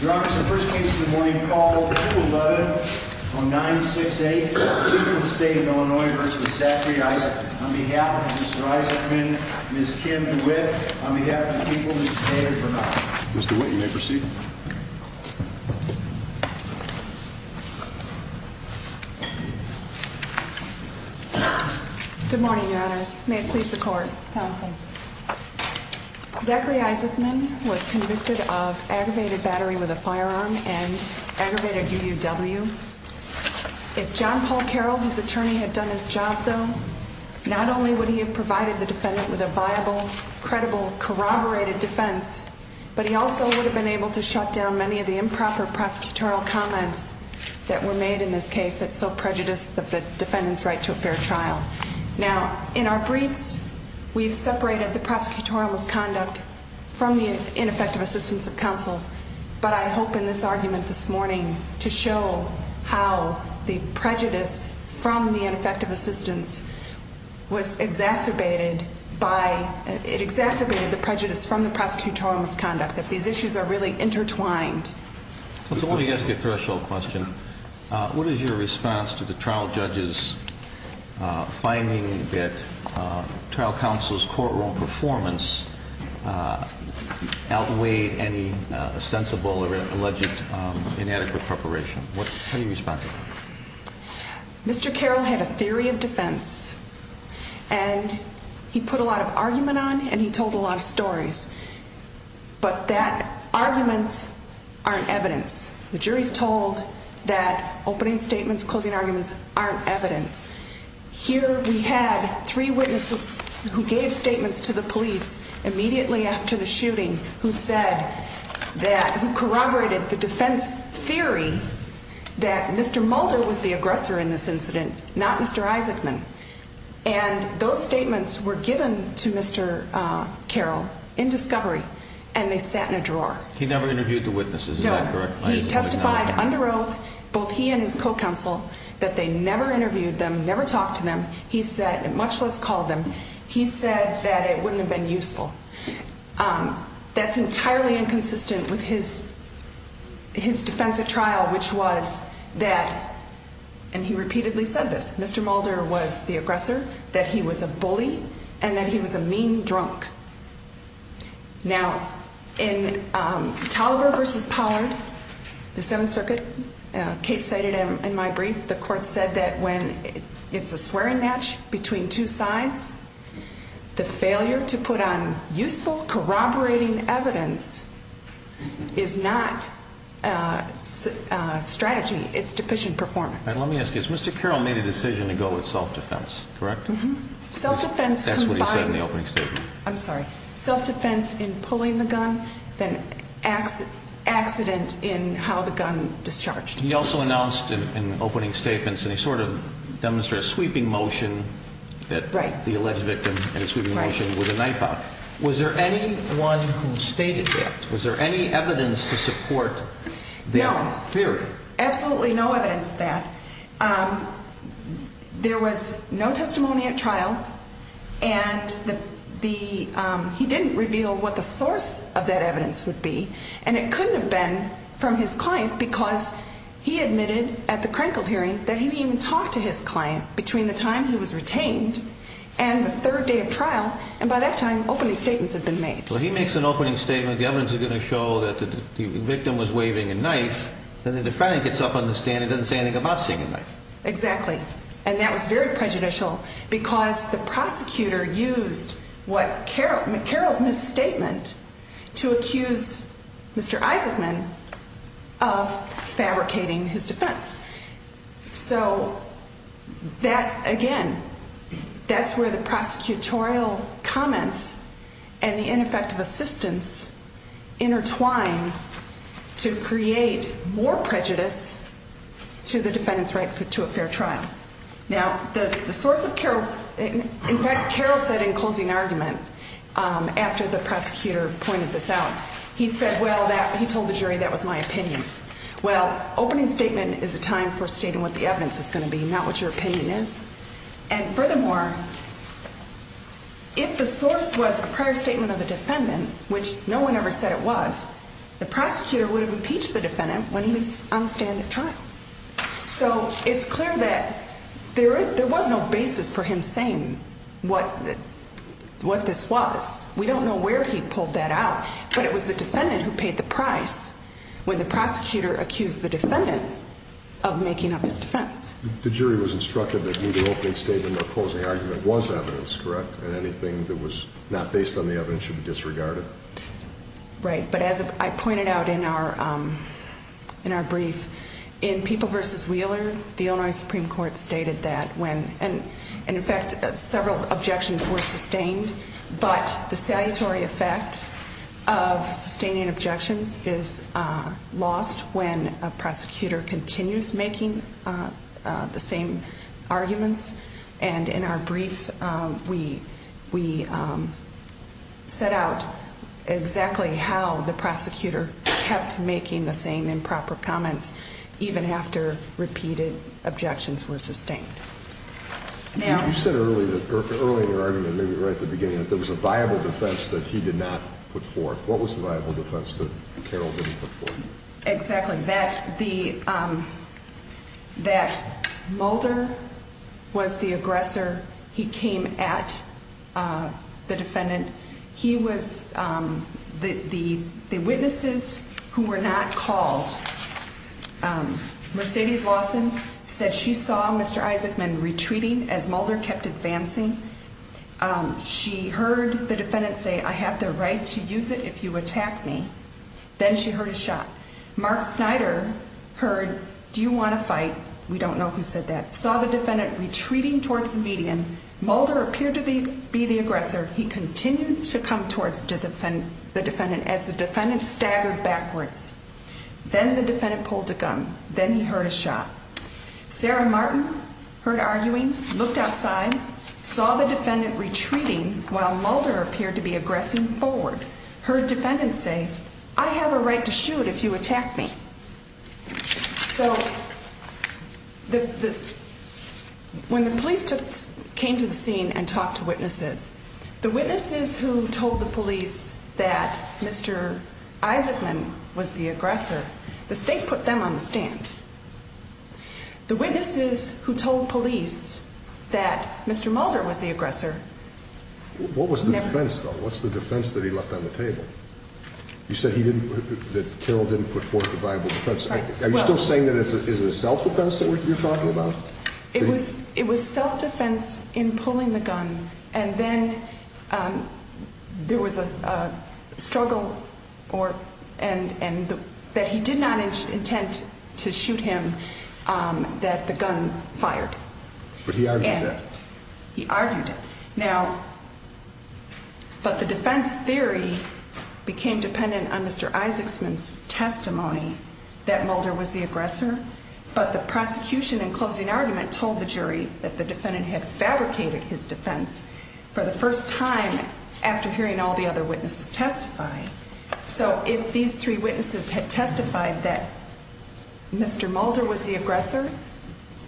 Your Honor, this is the first case of the morning, called 2-11-968, Chief of State of Illinois v. Zachary Isaacman. On behalf of Mr. Isaacman, Ms. Kim DeWitt, on behalf of the people of the United States of America. Ms. DeWitt, you may proceed. Good morning, Your Honors. May it please the Court. Counsel. Zachary Isaacman was convicted of aggravated battery with a firearm and aggravated UUW. If John Paul Carroll, his attorney, had done his job, though, not only would he have provided the defendant with a viable, credible, corroborated defense, but he also would have been able to shut down many of the improper prosecutorial comments that were made in this case that so prejudiced the defendant's right to a fair trial. Now, in our briefs, we've separated the prosecutorial misconduct from the ineffective assistance of counsel, but I hope in this argument this morning to show how the prejudice from the ineffective assistance was exacerbated by, it exacerbated the prejudice from the prosecutorial misconduct, that these issues are really intertwined. So let me ask you a threshold question. What is your response to the trial judge's finding that trial counsel's courtroom performance outweighed any sensible or alleged inadequate preparation? How do you respond to that? Mr. Carroll had a theory of defense, and he put a lot of argument on, and he told a lot of stories. But that arguments aren't evidence. The jury's told that opening statements, closing arguments aren't evidence. Here we had three witnesses who gave statements to the police immediately after the shooting who said that, who corroborated the defense theory that Mr. Mulder was the aggressor in this incident, not Mr. Isaacman. And those statements were given to Mr. Carroll in discovery, and they sat in a drawer. He never interviewed the witnesses, is that correct? No, he testified under oath, both he and his co-counsel, that they never interviewed them, never talked to them, he said, much less called them, he said that it wouldn't have been useful. That's entirely inconsistent with his defense at trial, which was that, and he repeatedly said this, that Mr. Mulder was the aggressor, that he was a bully, and that he was a mean drunk. Now, in Tolliver v. Pollard, the Seventh Circuit, a case cited in my brief, the court said that when it's a swearing match between two sides, the failure to put on useful corroborating evidence is not strategy, it's deficient performance. And let me ask you, has Mr. Carroll made a decision to go with self-defense, correct? Mm-hmm. That's what he said in the opening statement. I'm sorry. Self-defense in pulling the gun, then accident in how the gun discharged. He also announced in opening statements, and he sort of demonstrated a sweeping motion that the alleged victim, in a sweeping motion, with a knife out. Was there anyone who stated that? Was there any evidence to support that theory? Absolutely no evidence of that. There was no testimony at trial, and he didn't reveal what the source of that evidence would be, and it couldn't have been from his client because he admitted at the Krenkel hearing that he didn't even talk to his client between the time he was retained and the third day of trial, and by that time, opening statements had been made. Well, he makes an opening statement, the evidence is going to show that the victim was waving a knife, and the defendant gets up on the stand and doesn't say anything about seeing a knife. Exactly, and that was very prejudicial because the prosecutor used McCarroll's misstatement to accuse Mr. Isaacman of fabricating his defense. So that, again, that's where the prosecutorial comments and the ineffective assistance intertwine to create more prejudice to the defendant's right to a fair trial. Now, the source of Carroll's, in fact, Carroll said in closing argument, after the prosecutor pointed this out, he said, well, he told the jury that was my opinion. Well, opening statement is a time for stating what the evidence is going to be, not what your opinion is. And furthermore, if the source was a prior statement of the defendant, which no one ever said it was, the prosecutor would have impeached the defendant when he was on stand at trial. So it's clear that there was no basis for him saying what this was. We don't know where he pulled that out, but it was the defendant who paid the price when the prosecutor accused the defendant of making up his defense. The jury was instructed that neither opening statement nor closing argument was evidence, correct, and anything that was not based on the evidence should be disregarded. Right, but as I pointed out in our brief, in People v. Wheeler, the Illinois Supreme Court stated that when, and in fact, several objections were sustained, but the salutary effect of sustaining objections is lost when a prosecutor continues making the same arguments. And in our brief, we set out exactly how the prosecutor kept making the same improper comments, even after repeated objections were sustained. You said earlier in your argument, maybe right at the beginning, that there was a viable defense that he did not put forth. What was the viable defense that Carroll didn't put forth? Exactly, that Mulder was the aggressor. He came at the defendant. He was the witnesses who were not called. Mercedes Lawson said she saw Mr. Isaacman retreating as Mulder kept advancing. She heard the defendant say, I have the right to use it if you attack me. Then she heard a shot. Mark Snyder heard, do you want to fight? We don't know who said that. Saw the defendant retreating towards the median. Mulder appeared to be the aggressor. He continued to come towards the defendant as the defendant staggered backwards. Then the defendant pulled a gun. Then he heard a shot. Sarah Martin heard arguing, looked outside, saw the defendant retreating while Mulder appeared to be aggressing forward. Heard defendant say, I have a right to shoot if you attack me. So when the police came to the scene and talked to witnesses, the witnesses who told the police that Mr. Isaacman was the aggressor, the state put them on the stand. The witnesses who told police that Mr. Mulder was the aggressor never – What was the defense, though? What's the defense that he left on the table? You said that Carroll didn't put forth a viable defense. Are you still saying that it's a self-defense that you're talking about? It was self-defense in pulling the gun. And then there was a struggle that he did not intend to shoot him that the gun fired. But he argued that. He argued it. But the defense theory became dependent on Mr. Isaacman's testimony that Mulder was the aggressor. But the prosecution in closing argument told the jury that the defendant had fabricated his defense for the first time after hearing all the other witnesses testify. So if these three witnesses had testified that Mr. Mulder was the aggressor,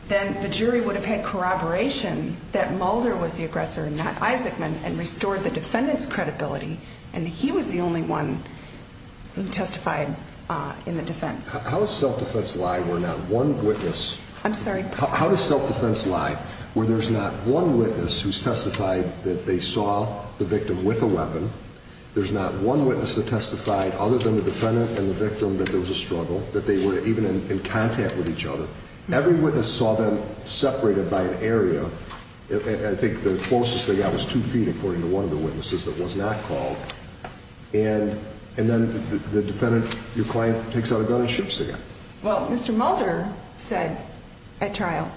then the jury would have had corroboration that Mulder was the aggressor and not Isaacman and restored the defendant's credibility. And he was the only one who testified in the defense. How does self-defense lie where not one witness – I'm sorry? How does self-defense lie where there's not one witness who's testified that they saw the victim with a weapon, there's not one witness that testified other than the defendant and the victim that there was a struggle, that they were even in contact with each other. Every witness saw them separated by an area. I think the closest they got was two feet, according to one of the witnesses, that was not called. And then the defendant, you claim, takes out a gun and shoots the guy. Well, Mr. Mulder said at trial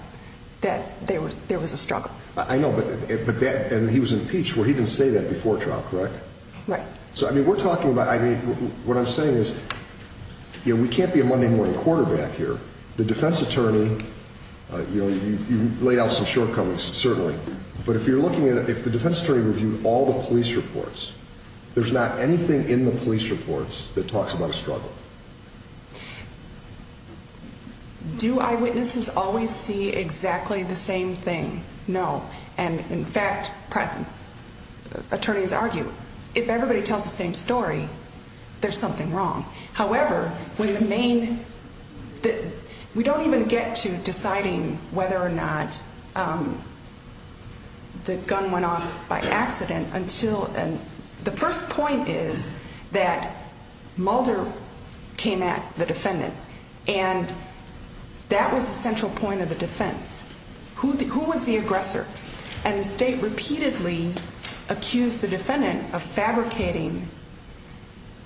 that there was a struggle. I know, but that – and he was impeached. Well, he didn't say that before trial, correct? Right. So, I mean, we're talking about – I mean, what I'm saying is, you know, we can't be a Monday morning quarterback here. The defense attorney, you know, you laid out some shortcomings, certainly. But if you're looking at – if the defense attorney reviewed all the police reports, there's not anything in the police reports that talks about a struggle. Do eyewitnesses always see exactly the same thing? No. And, in fact, attorneys argue, if everybody tells the same story, there's something wrong. However, when the main – we don't even get to deciding whether or not the gun went off by accident until – the first point is that Mulder came at the defendant, and that was the central point of the defense. Who was the aggressor? And the state repeatedly accused the defendant of fabricating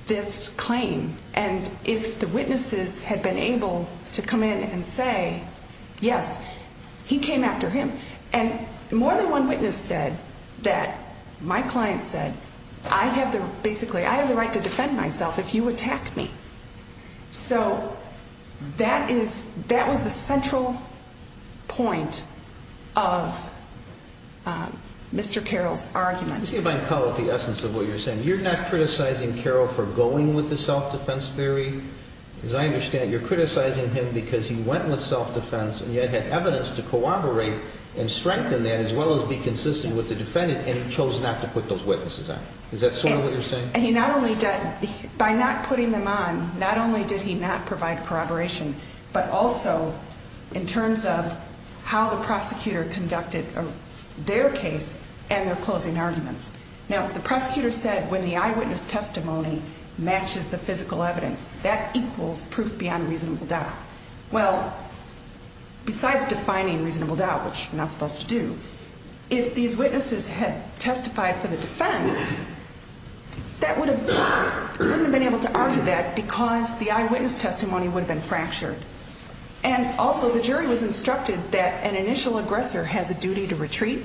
this claim. And if the witnesses had been able to come in and say, yes, he came after him. And more than one witness said that – my client said, I have the – basically, I have the right to defend myself if you attack me. So that is – that was the central point of Mr. Carroll's argument. Let me see if I can call it the essence of what you're saying. You're not criticizing Carroll for going with the self-defense theory? As I understand it, you're criticizing him because he went with self-defense and yet had evidence to corroborate and strengthen that as well as be consistent with the defendant, and he chose not to put those witnesses on. Is that sort of what you're saying? And he not only – by not putting them on, not only did he not provide corroboration, but also in terms of how the prosecutor conducted their case and their closing arguments. Now, the prosecutor said when the eyewitness testimony matches the physical evidence, that equals proof beyond reasonable doubt. Well, besides defining reasonable doubt, which you're not supposed to do, if these witnesses had testified for the defense, that would have – they wouldn't have been able to argue that because the eyewitness testimony would have been fractured. And also the jury was instructed that an initial aggressor has a duty to retreat,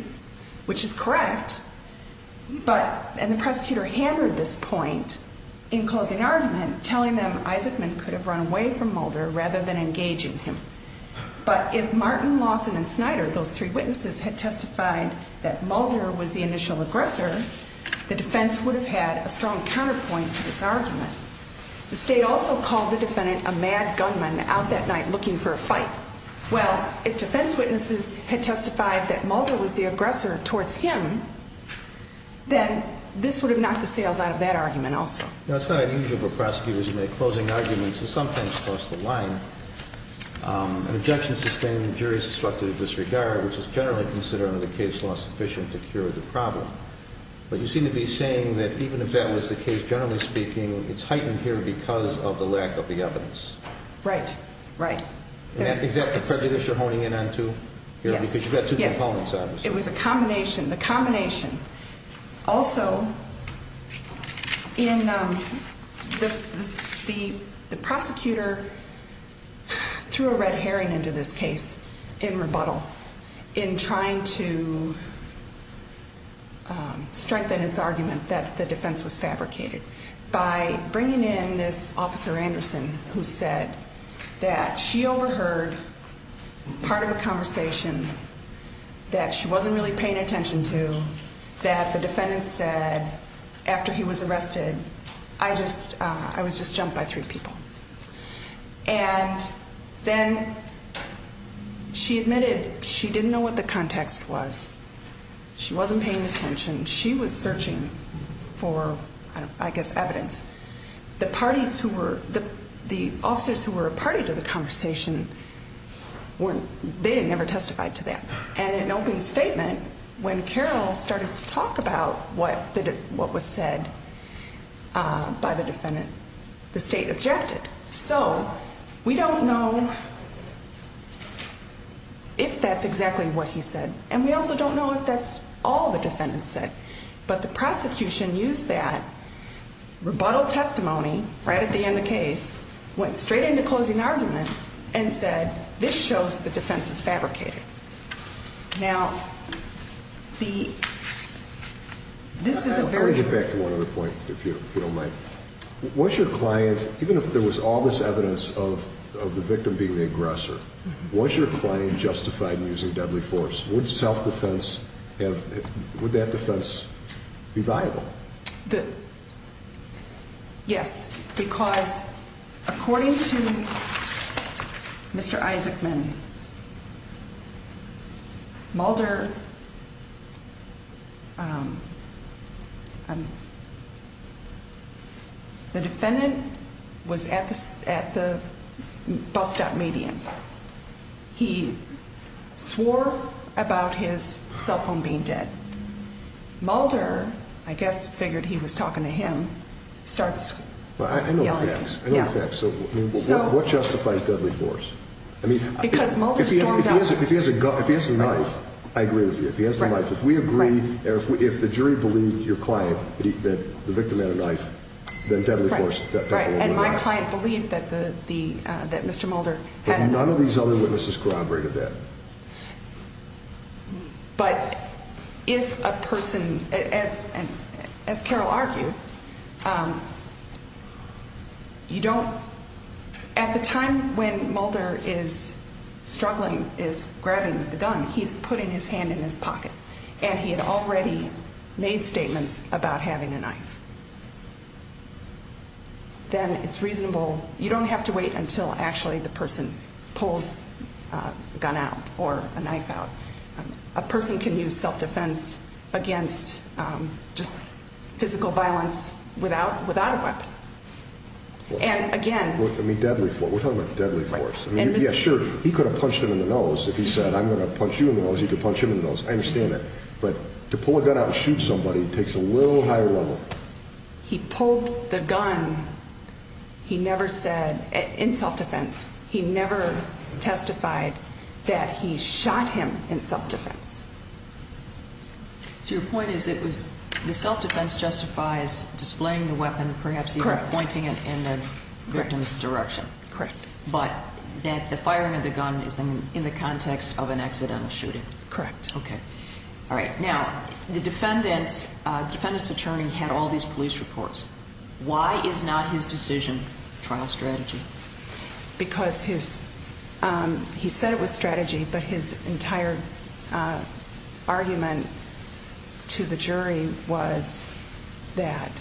which is correct, but – and the prosecutor hammered this point in closing argument, telling them Isaacman could have run away from Mulder rather than engaging him. But if Martin, Lawson, and Snyder, those three witnesses, had testified that Mulder was the initial aggressor, the defense would have had a strong counterpoint to this argument. The state also called the defendant a mad gunman out that night looking for a fight. Well, if defense witnesses had testified that Mulder was the aggressor towards him, then this would have knocked the sails out of that argument also. You know, it's not unusual for prosecutors who make closing arguments to sometimes cross the line. An objection sustained, the jury is instructed to disregard, which is generally considered under the case law sufficient to cure the problem. But you seem to be saying that even if that was the case, generally speaking, it's heightened here because of the lack of the evidence. Right. Right. Is that the prejudice you're honing in on too? Yes. Because you've got two components, obviously. It was a combination. The combination. Also, the prosecutor threw a red herring into this case in rebuttal in trying to strengthen its argument that the defense was fabricated by bringing in this Officer Anderson who said that she overheard part of the conversation that she wasn't really paying attention to, that the defendant said after he was arrested, I was just jumped by three people. And then she admitted she didn't know what the context was. She wasn't paying attention. She was searching for, I guess, evidence. The officers who were a party to the conversation, they never testified to that. And in an open statement, when Carroll started to talk about what was said by the defendant, the state objected. So we don't know if that's exactly what he said. And we also don't know if that's all the defendant said. But the prosecution used that rebuttal testimony right at the end of the case, went straight into closing argument, and said, this shows the defense is fabricated. Now, this is a very... I want to get back to one other point, if you don't mind. Was your client, even if there was all this evidence of the victim being the aggressor, was your client justified in using deadly force? Would self-defense, would that defense be viable? Yes, because according to Mr. Isaacman, Mulder, the defendant was at the bus stop median. He swore about his cell phone being dead. Mulder, I guess, figured he was talking to him, starts yelling at him. I know the facts. I know the facts. What justifies deadly force? Because Mulder stormed out. If he has a knife, I agree with you. If he has a knife. If we agree, if the jury believed your client that the victim had a knife, then deadly force definitely would work. And my client believed that Mr. Mulder had a knife. But none of these other witnesses corroborated that. But if a person, as Carol argued, you don't... At the time when Mulder is struggling, is grabbing the gun, he's putting his hand in his pocket, and he had already made statements about having a knife. Then it's reasonable. You don't have to wait until actually the person pulls a gun out or a knife out. A person can use self-defense against just physical violence without a weapon. And again... I mean, deadly force. We're talking about deadly force. Yes, sure, he could have punched him in the nose. If he said, I'm going to punch you in the nose, you could punch him in the nose. I understand that. But to pull a gun out and shoot somebody takes a little higher level. He pulled the gun, he never said, in self-defense, he never testified that he shot him in self-defense. So your point is it was the self-defense justifies displaying the weapon, perhaps even pointing it in the victim's direction. Correct. But that the firing of the gun is in the context of an accidental shooting. Correct. Okay. Now, the defendant's attorney had all these police reports. Why is not his decision trial strategy? Because he said it was strategy, but his entire argument to the jury was that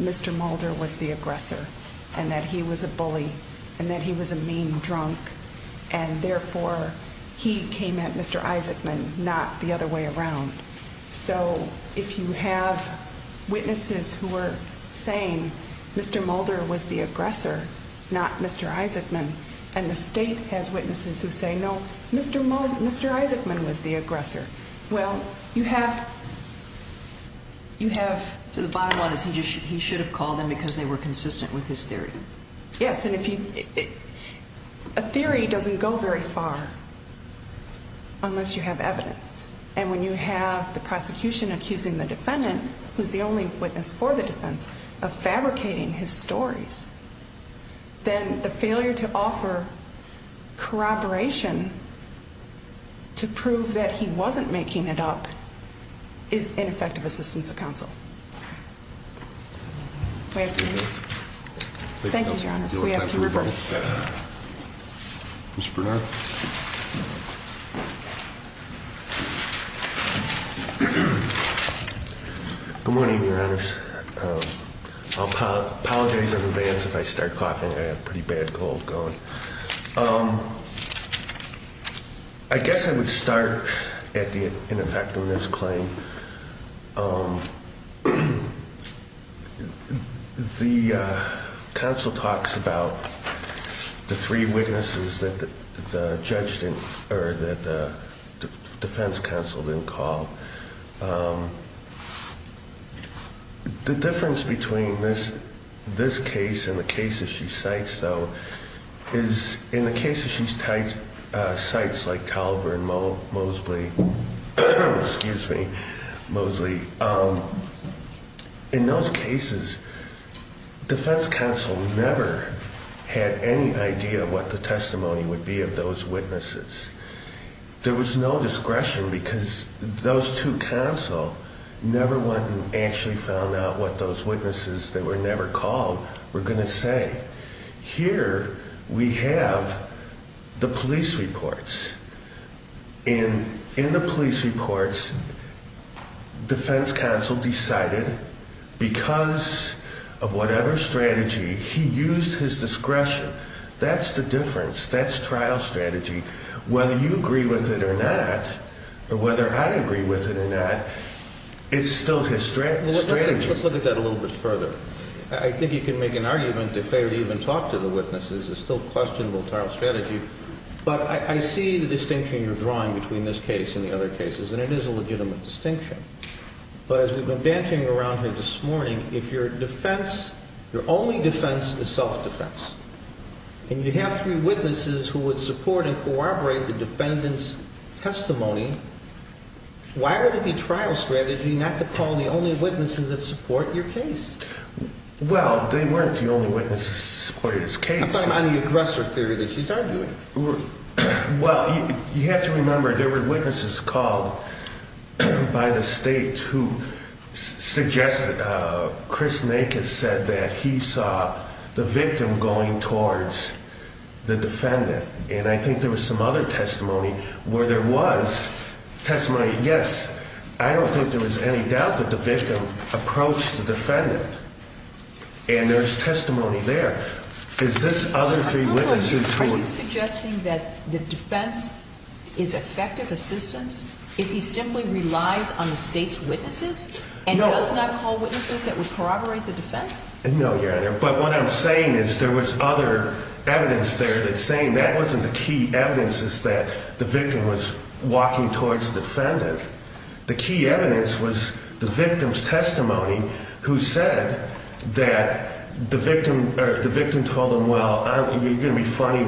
Mr. Mulder was the aggressor and that he was a bully and that he was a mean drunk, and therefore he came at Mr. Isaacman, not the other way around. So if you have witnesses who are saying Mr. Mulder was the aggressor, not Mr. Isaacman, and the state has witnesses who say, no, Mr. Isaacman was the aggressor, well, you have to the bottom line is he should have called them because they were consistent with his theory. Yes, and a theory doesn't go very far unless you have evidence. And when you have the prosecution accusing the defendant, who's the only witness for the defense, of fabricating his stories, then the failure to offer corroboration to prove that he wasn't making it up is ineffective assistance of counsel. Thank you, Your Honor. We ask you to reverse. Mr. Bernard? Good morning, Your Honors. I apologize in advance if I start coughing. I have a pretty bad cold going. I guess I would start at the ineffectiveness claim. The counsel talks about the three witnesses that the defense counsel didn't call. The difference between this case and the cases she cites, though, is in the cases she cites like Toliver and Mosley, in those cases, defense counsel never had any idea what the testimony would be of those witnesses. There was no discretion because those two counsel never went and actually found out what those witnesses that were never called were going to say. Here we have the police reports. In the police reports, defense counsel decided because of whatever strategy, he used his discretion. That's the difference. That's trial strategy. Whether you agree with it or not, or whether I agree with it or not, it's still his strategy. Let's look at that a little bit further. I think you can make an argument if they would even talk to the witnesses. It's still questionable trial strategy. But I see the distinction you're drawing between this case and the other cases, and it is a legitimate distinction. But as we've been dancing around here this morning, if your defense, your only defense is self-defense, and you have three witnesses who would support and corroborate the defendant's testimony, why would it be trial strategy not to call the only witnesses that support your case? Well, they weren't the only witnesses that supported his case. I'm talking about the aggressor theory that you started doing. Well, you have to remember there were witnesses called by the state who suggested, Chris Nakes said that he saw the victim going towards the defendant. And I think there was some other testimony where there was testimony, yes, I don't think there was any doubt that the victim approached the defendant. And there's testimony there. Is this other three witnesses who – Are you suggesting that the defense is effective assistance if he simply relies on the state's witnesses and does not call witnesses that would corroborate the defense? No, Your Honor. But what I'm saying is there was other evidence there that's saying that wasn't the key evidence, is that the victim was walking towards the defendant. The key evidence was the victim's testimony who said that the victim told him, well, you're going to be funny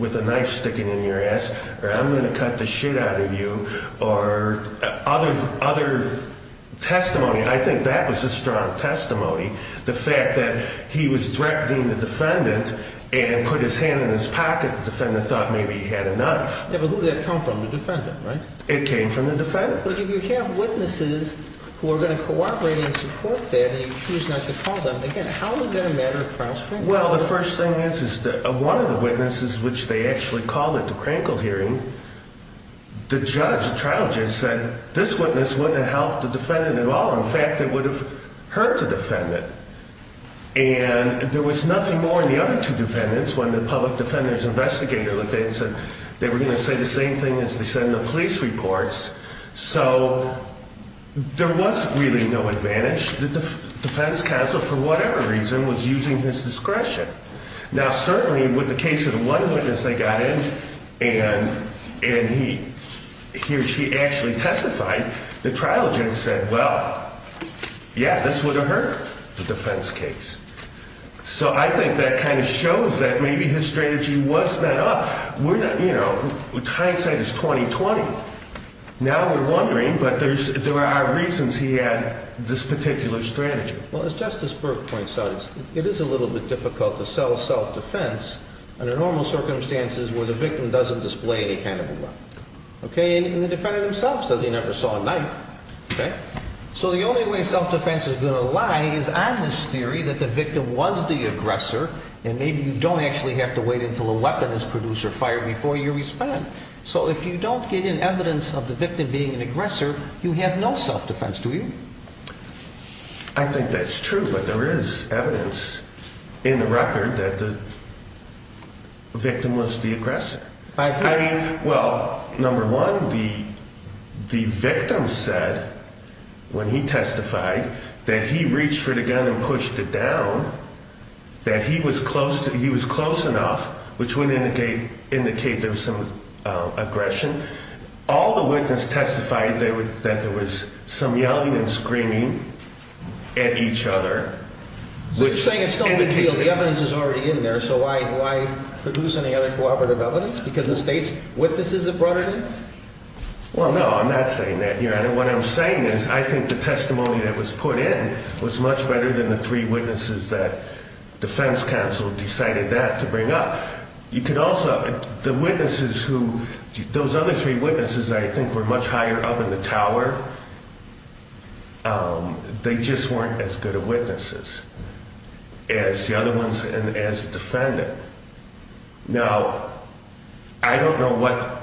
with a knife sticking in your ass, or I'm going to cut the shit out of you, or other testimony. I think that was a strong testimony. The fact that he was threatening the defendant and put his hand in his pocket, the defendant thought maybe he had a knife. Yeah, but who did that come from? The defendant, right? It came from the defendant. But if you have witnesses who are going to corroborate and support that and you choose not to call them, again, how is that a matter of cross-examination? Well, the first thing is that one of the witnesses, which they actually called at the Krankel hearing, the judge, the trial judge, said this witness wouldn't have helped the defendant at all. In fact, it would have hurt the defendant. And there was nothing more in the other two defendants when the public defender's investigator looked at it and said they were going to say the same thing as they said in the police reports. So there was really no advantage. The defense counsel, for whatever reason, was using his discretion. Now, certainly with the case of the one witness they got in and he or she actually testified, the trial judge said, well, yeah, this would have hurt the defense case. So I think that kind of shows that maybe his strategy was not up. We're not, you know, hindsight is 20-20. Now we're wondering, but there are reasons he had this particular strategy. Well, as Justice Burke points out, it is a little bit difficult to sell self-defense under normal circumstances where the victim doesn't display any handicap. And the defendant himself says he never saw a knife. So the only way self-defense is going to lie is on this theory that the victim was the aggressor and maybe you don't actually have to wait until a weapon is produced or fired before you respond. So if you don't get any evidence of the victim being an aggressor, you have no self-defense, do you? I think that's true, but there is evidence in the record that the victim was the aggressor. I mean, well, number one, the victim said when he testified that he reached for the gun and pushed it down, that he was close enough, which would indicate there was some aggression. All the witnesses testified that there was some yelling and screaming at each other. So you're saying it's no big deal. The evidence is already in there. So why produce any other cooperative evidence? Because the state's witnesses have brought it in? Well, no, I'm not saying that. What I'm saying is I think the testimony that was put in was much better than the three witnesses that defense counsel decided that to bring up. You could also, the witnesses who, those other three witnesses I think were much higher up in the tower, they just weren't as good of witnesses as the other ones and as defendant. Now, I don't know what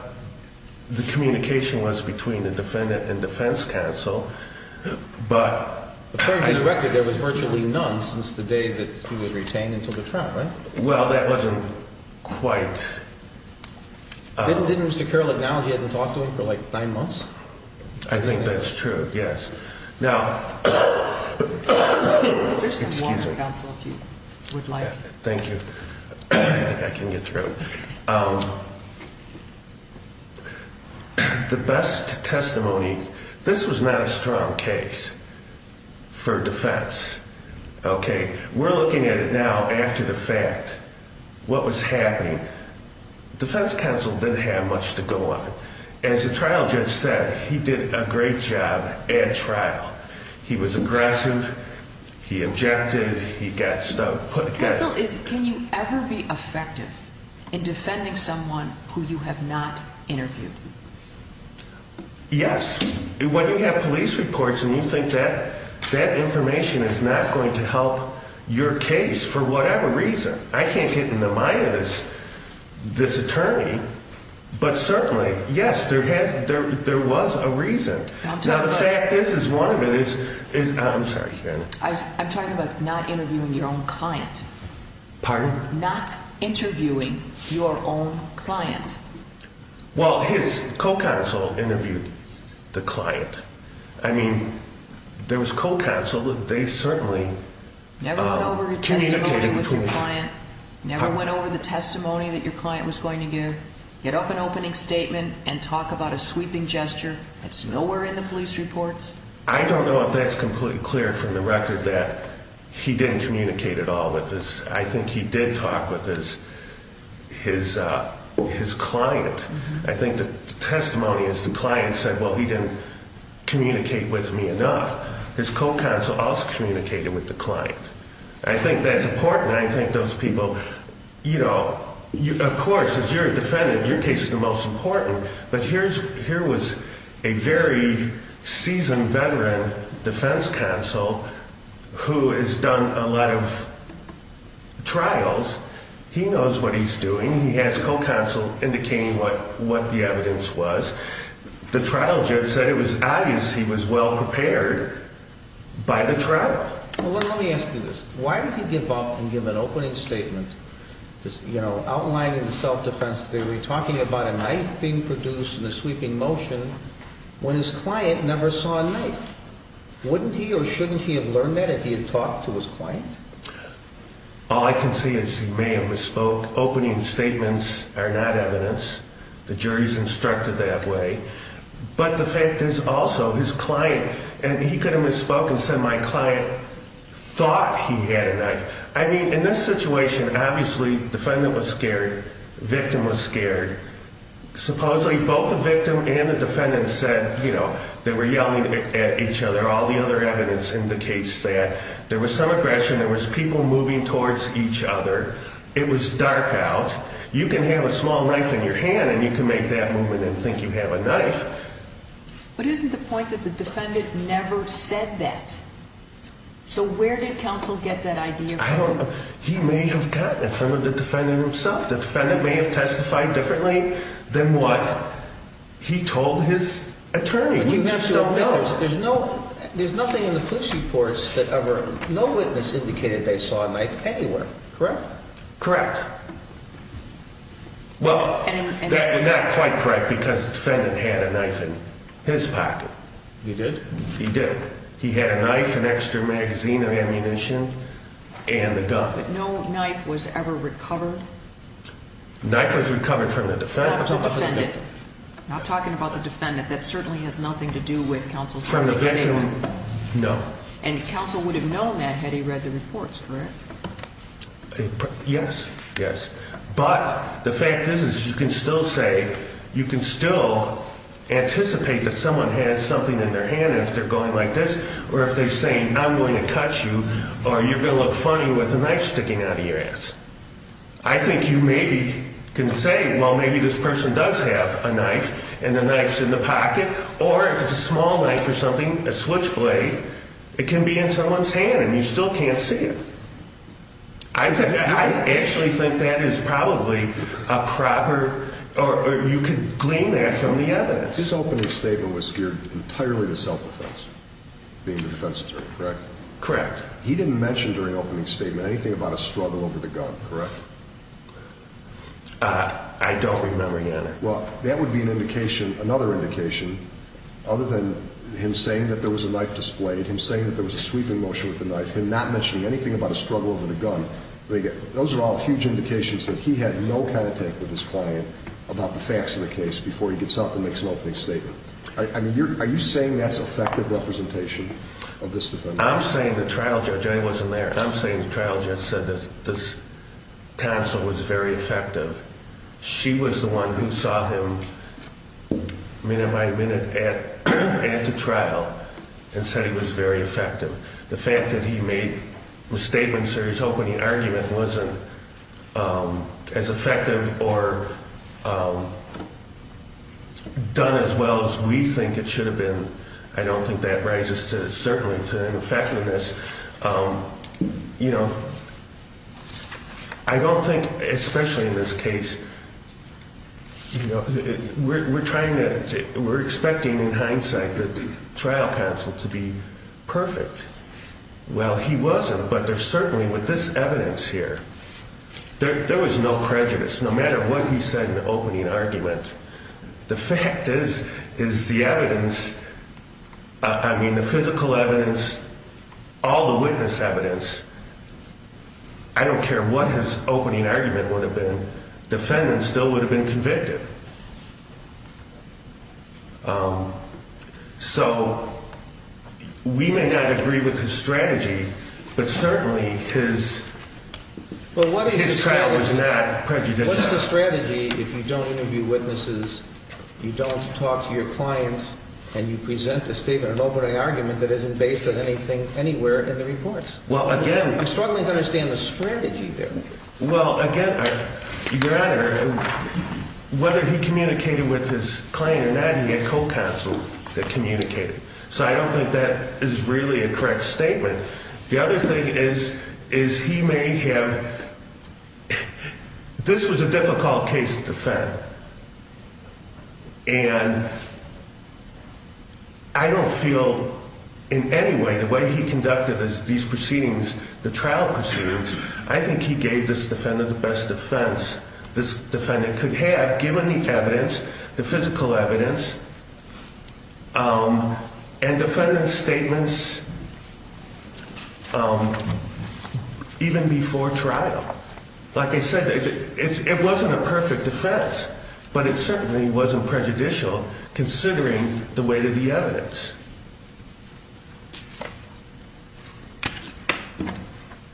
the communication was between the defendant and defense counsel, but... According to the record, there was virtually none since the day that he was retained until the trial, right? Well, that wasn't quite... Didn't Mr. Carroll acknowledge he hadn't talked to him for like nine months? I think that's true, yes. Now... There's some water, counsel, if you would like. Thank you. I think I can get through. The best testimony, this was not a strong case for defense, okay? We're looking at it now after the fact, what was happening. Defense counsel didn't have much to go on. As the trial judge said, he did a great job at trial. He was aggressive, he objected, he got stuck. Counsel, can you ever be effective in defending someone who you have not interviewed? Yes. When you have police reports and you think that that information is not going to help your case for whatever reason, I can't get in the mind of this attorney, but certainly, yes, there was a reason. Now, the fact is, is one of it is... I'm sorry. I'm talking about not interviewing your own client. Pardon? Not interviewing your own client. Well, his co-counsel interviewed the client. I mean, there was co-counsel. They certainly communicated between... Never went over your testimony with your client? Never went over the testimony that your client was going to give? Get up an opening statement and talk about a sweeping gesture that's nowhere in the police reports? I don't know if that's completely clear from the record that he didn't communicate at all with his... I think he did talk with his client. I think the testimony is the client said, well, he didn't communicate with me enough. His co-counsel also communicated with the client. I think that's important. I think those people, you know, of course, as you're a defendant, your case is the most important, but here was a very seasoned veteran defense counsel who has done a lot of trials. He knows what he's doing. He has co-counsel indicating what the evidence was. The trial judge said it was obvious he was well prepared by the trial. Well, let me ask you this. Why did he give up and give an opening statement, you know, outlining the self-defense theory, talking about a knife being produced in a sweeping motion when his client never saw a knife? Wouldn't he or shouldn't he have learned that if he had talked to his client? All I can say is he may have misspoke. Opening statements are not evidence. The jury's instructed that way, but the fact is also his client, and he could have misspoke and said my client thought he had a knife. I mean, in this situation, obviously, defendant was scared, victim was scared. Supposedly, both the victim and the defendant said, you know, they were yelling at each other. All the other evidence indicates that. There was some aggression. There was people moving towards each other. It was dark out. You can have a small knife in your hand, and you can make that movement and think you have a knife. But isn't the point that the defendant never said that? So where did counsel get that idea from? He may have gotten it from the defendant himself. The defendant may have testified differently than what he told his attorney. There's nothing in the police reports that ever no witness indicated they saw a knife anywhere, correct? Correct. Well, that is not quite correct because the defendant had a knife in his pocket. He did? He did. He had a knife, an extra magazine of ammunition, and a gun. But no knife was ever recovered? Knife was recovered from the defendant. Not talking about the defendant. That certainly has nothing to do with counsel's statement. From the victim? No. And counsel would have known that had he read the reports, correct? Yes, yes. But the fact is you can still say, you can still anticipate that someone has something in their hand if they're going like this, or if they're saying, I'm going to cut you, or you're going to look funny with a knife sticking out of your ass. I think you maybe can say, well, maybe this person does have a knife and the knife's in the pocket, or if it's a small knife or something, a switchblade, it can be in someone's hand and you still can't see it. I actually think that is probably a proper, or you could glean that from the evidence. His opening statement was geared entirely to self-defense, being the defense attorney, correct? Correct. He didn't mention during opening statement anything about a struggle over the gun, correct? I don't remember, Your Honor. Well, that would be another indication other than him saying that there was a knife displayed, him saying that there was a sweeping motion with the knife, him not mentioning anything about a struggle over the gun. Those are all huge indications that he had no contact with his client about the facts of the case before he gets up and makes an opening statement. Are you saying that's effective representation of this defendant? I'm saying the trial judge, and I wasn't there, I'm saying the trial judge said this counsel was very effective. She was the one who saw him minute by minute at the trial and said he was very effective. The fact that he made a statement, sir, his opening argument wasn't as effective or done as well as we think it should have been, I don't think that rises to, certainly to an effectiveness. You know, I don't think, especially in this case, we're trying to, we're expecting in hindsight that the trial counsel to be perfect. Well, he wasn't, but there's certainly with this evidence here, there was no prejudice, no matter what he said in the opening argument. The fact is, is the evidence. I mean, the physical evidence, all the witness evidence. I don't care what his opening argument would have been. Defendants still would have been convicted. So we may not agree with his strategy, but certainly his trial was not prejudicial. It's just a strategy if you don't interview witnesses, you don't talk to your clients, and you present a statement, an opening argument that isn't based on anything anywhere in the reports. Well, again. I'm struggling to understand the strategy there. Well, again, your Honor, whether he communicated with his client or not, he had co-counsel that communicated. So I don't think that is really a correct statement. The other thing is, is he may have, this was a difficult case to defend. And I don't feel in any way the way he conducted these proceedings, the trial proceedings, I think he gave this defendant the best defense this defendant could have given the evidence, the physical evidence. And defendant's statements, even before trial, like I said, it wasn't a perfect defense, but it certainly wasn't prejudicial considering the weight of the evidence.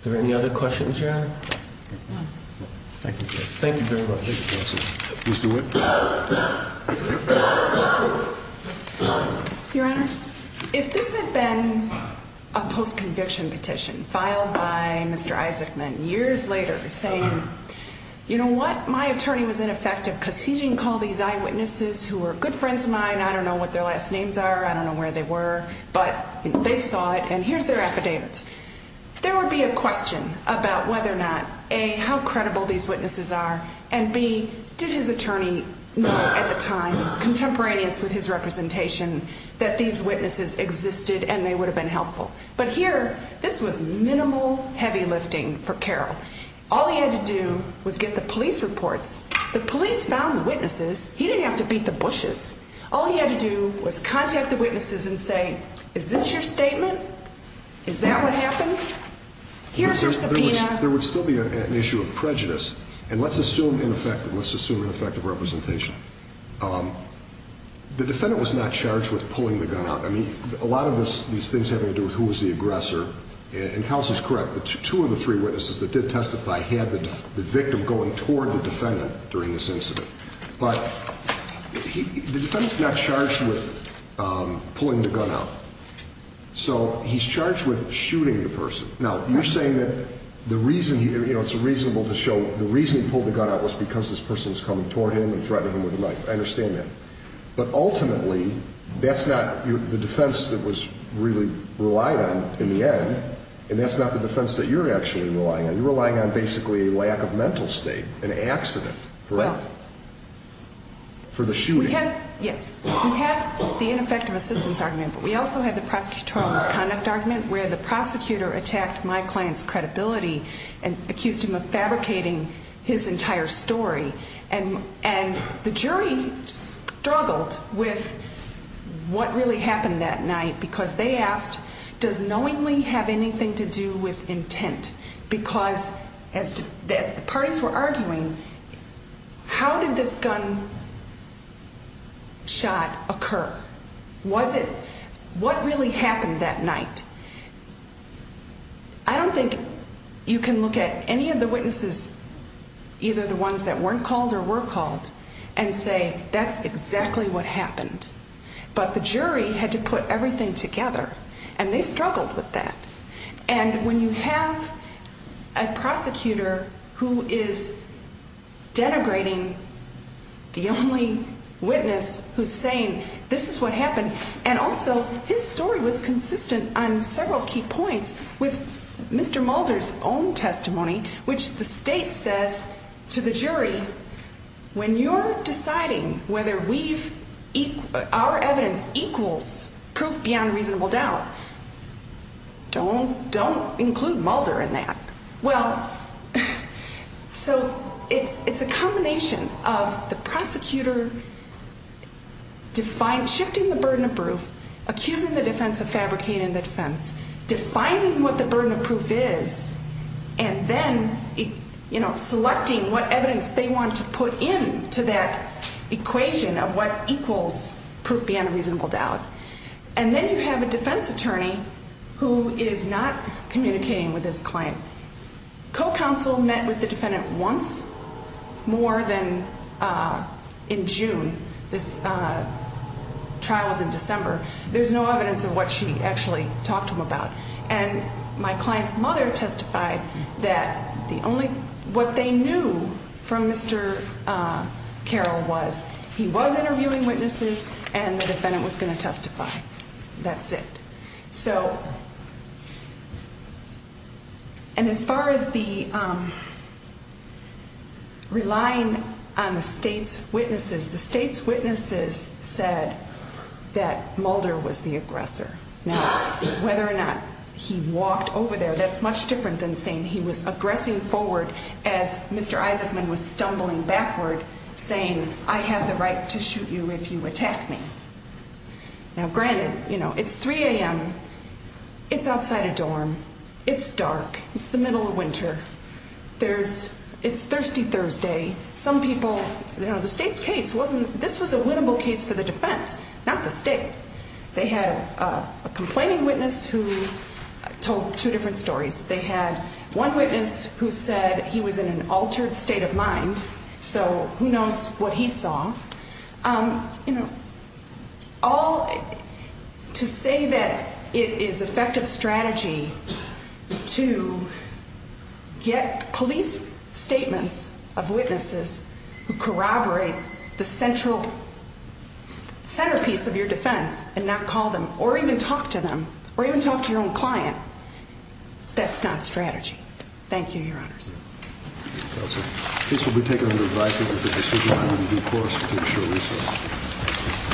Are there any other questions, Your Honor? No. Thank you. Thank you very much. Mr. Witt. Your Honors, if this had been a post-conviction petition filed by Mr. Isaacman years later saying, you know what, my attorney was ineffective because he didn't call these eyewitnesses who were good friends of mine, I don't know what their last names are, I don't know where they were. But they saw it, and here's their affidavits. There would be a question about whether or not, A, how credible these witnesses are, and B, did his attorney know at the time, contemporaneous with his representation, that these witnesses existed and they would have been helpful. But here, this was minimal heavy lifting for Carroll. All he had to do was get the police reports. The police found the witnesses. He didn't have to beat the bushes. All he had to do was contact the witnesses and say, is this your statement? Is that what happened? Here's your subpoena. There would still be an issue of prejudice. And let's assume ineffective. Let's assume ineffective representation. The defendant was not charged with pulling the gun out. I mean, a lot of these things have to do with who was the aggressor. And counsel's correct. Two of the three witnesses that did testify had the victim going toward the defendant during this incident. But the defendant's not charged with pulling the gun out. So he's charged with shooting the person. Now, you're saying that the reason, you know, it's reasonable to show the reason he pulled the gun out was because this person was coming toward him and threatening him with a knife. I understand that. But ultimately, that's not the defense that was really relied on in the end, and that's not the defense that you're actually relying on. You're relying on basically a lack of mental state, an accident, correct? For the shooting. Yes. We have the ineffective assistance argument, but we also have the prosecutorial misconduct argument where the prosecutor attacked my client's credibility and accused him of fabricating his entire story. And the jury struggled with what really happened that night because they asked, does knowingly have anything to do with intent? Because as the parties were arguing, how did this gun shot occur? Was it what really happened that night? I don't think you can look at any of the witnesses, either the ones that weren't called or were called, and say that's exactly what happened. But the jury had to put everything together, and they struggled with that. And when you have a prosecutor who is denigrating the only witness who's saying this is what happened, and also his story was consistent on several key points with Mr. Mulder's own testimony, which the state says to the jury, when you're deciding whether our evidence equals proof beyond reasonable doubt, don't include Mulder in that. Well, so it's a combination of the prosecutor shifting the burden of proof, accusing the defense of fabricating the defense, defining what the burden of proof is, and then selecting what evidence they want to put into that equation of what equals proof beyond reasonable doubt. And then you have a defense attorney who is not communicating with his client. Co-counsel met with the defendant once more than in June. This trial was in December. There's no evidence of what she actually talked to him about. And my client's mother testified that what they knew from Mr. Carroll was he was interviewing witnesses, and the defendant was going to testify. That's it. And as far as the relying on the state's witnesses, the state's witnesses said that Mulder was the aggressor. Now, whether or not he walked over there, that's much different than saying he was aggressing forward as Mr. Isaacman was stumbling backward, saying, I have the right to shoot you if you attack me. Now, granted, you know, it's 3 a.m. It's outside a dorm. It's dark. It's the middle of winter. There's it's Thirsty Thursday. Some people, you know, the state's case wasn't this was a winnable case for the defense, not the state. They had a complaining witness who told two different stories. They had one witness who said he was in an altered state of mind. So who knows what he saw? You know, all to say that it is effective strategy to get police statements of witnesses who corroborate the central centerpiece of your defense and not call them or even talk to them or even talk to your own client. That's not strategy. Thank you. Your Honor. So this will be taken under advice of the decision.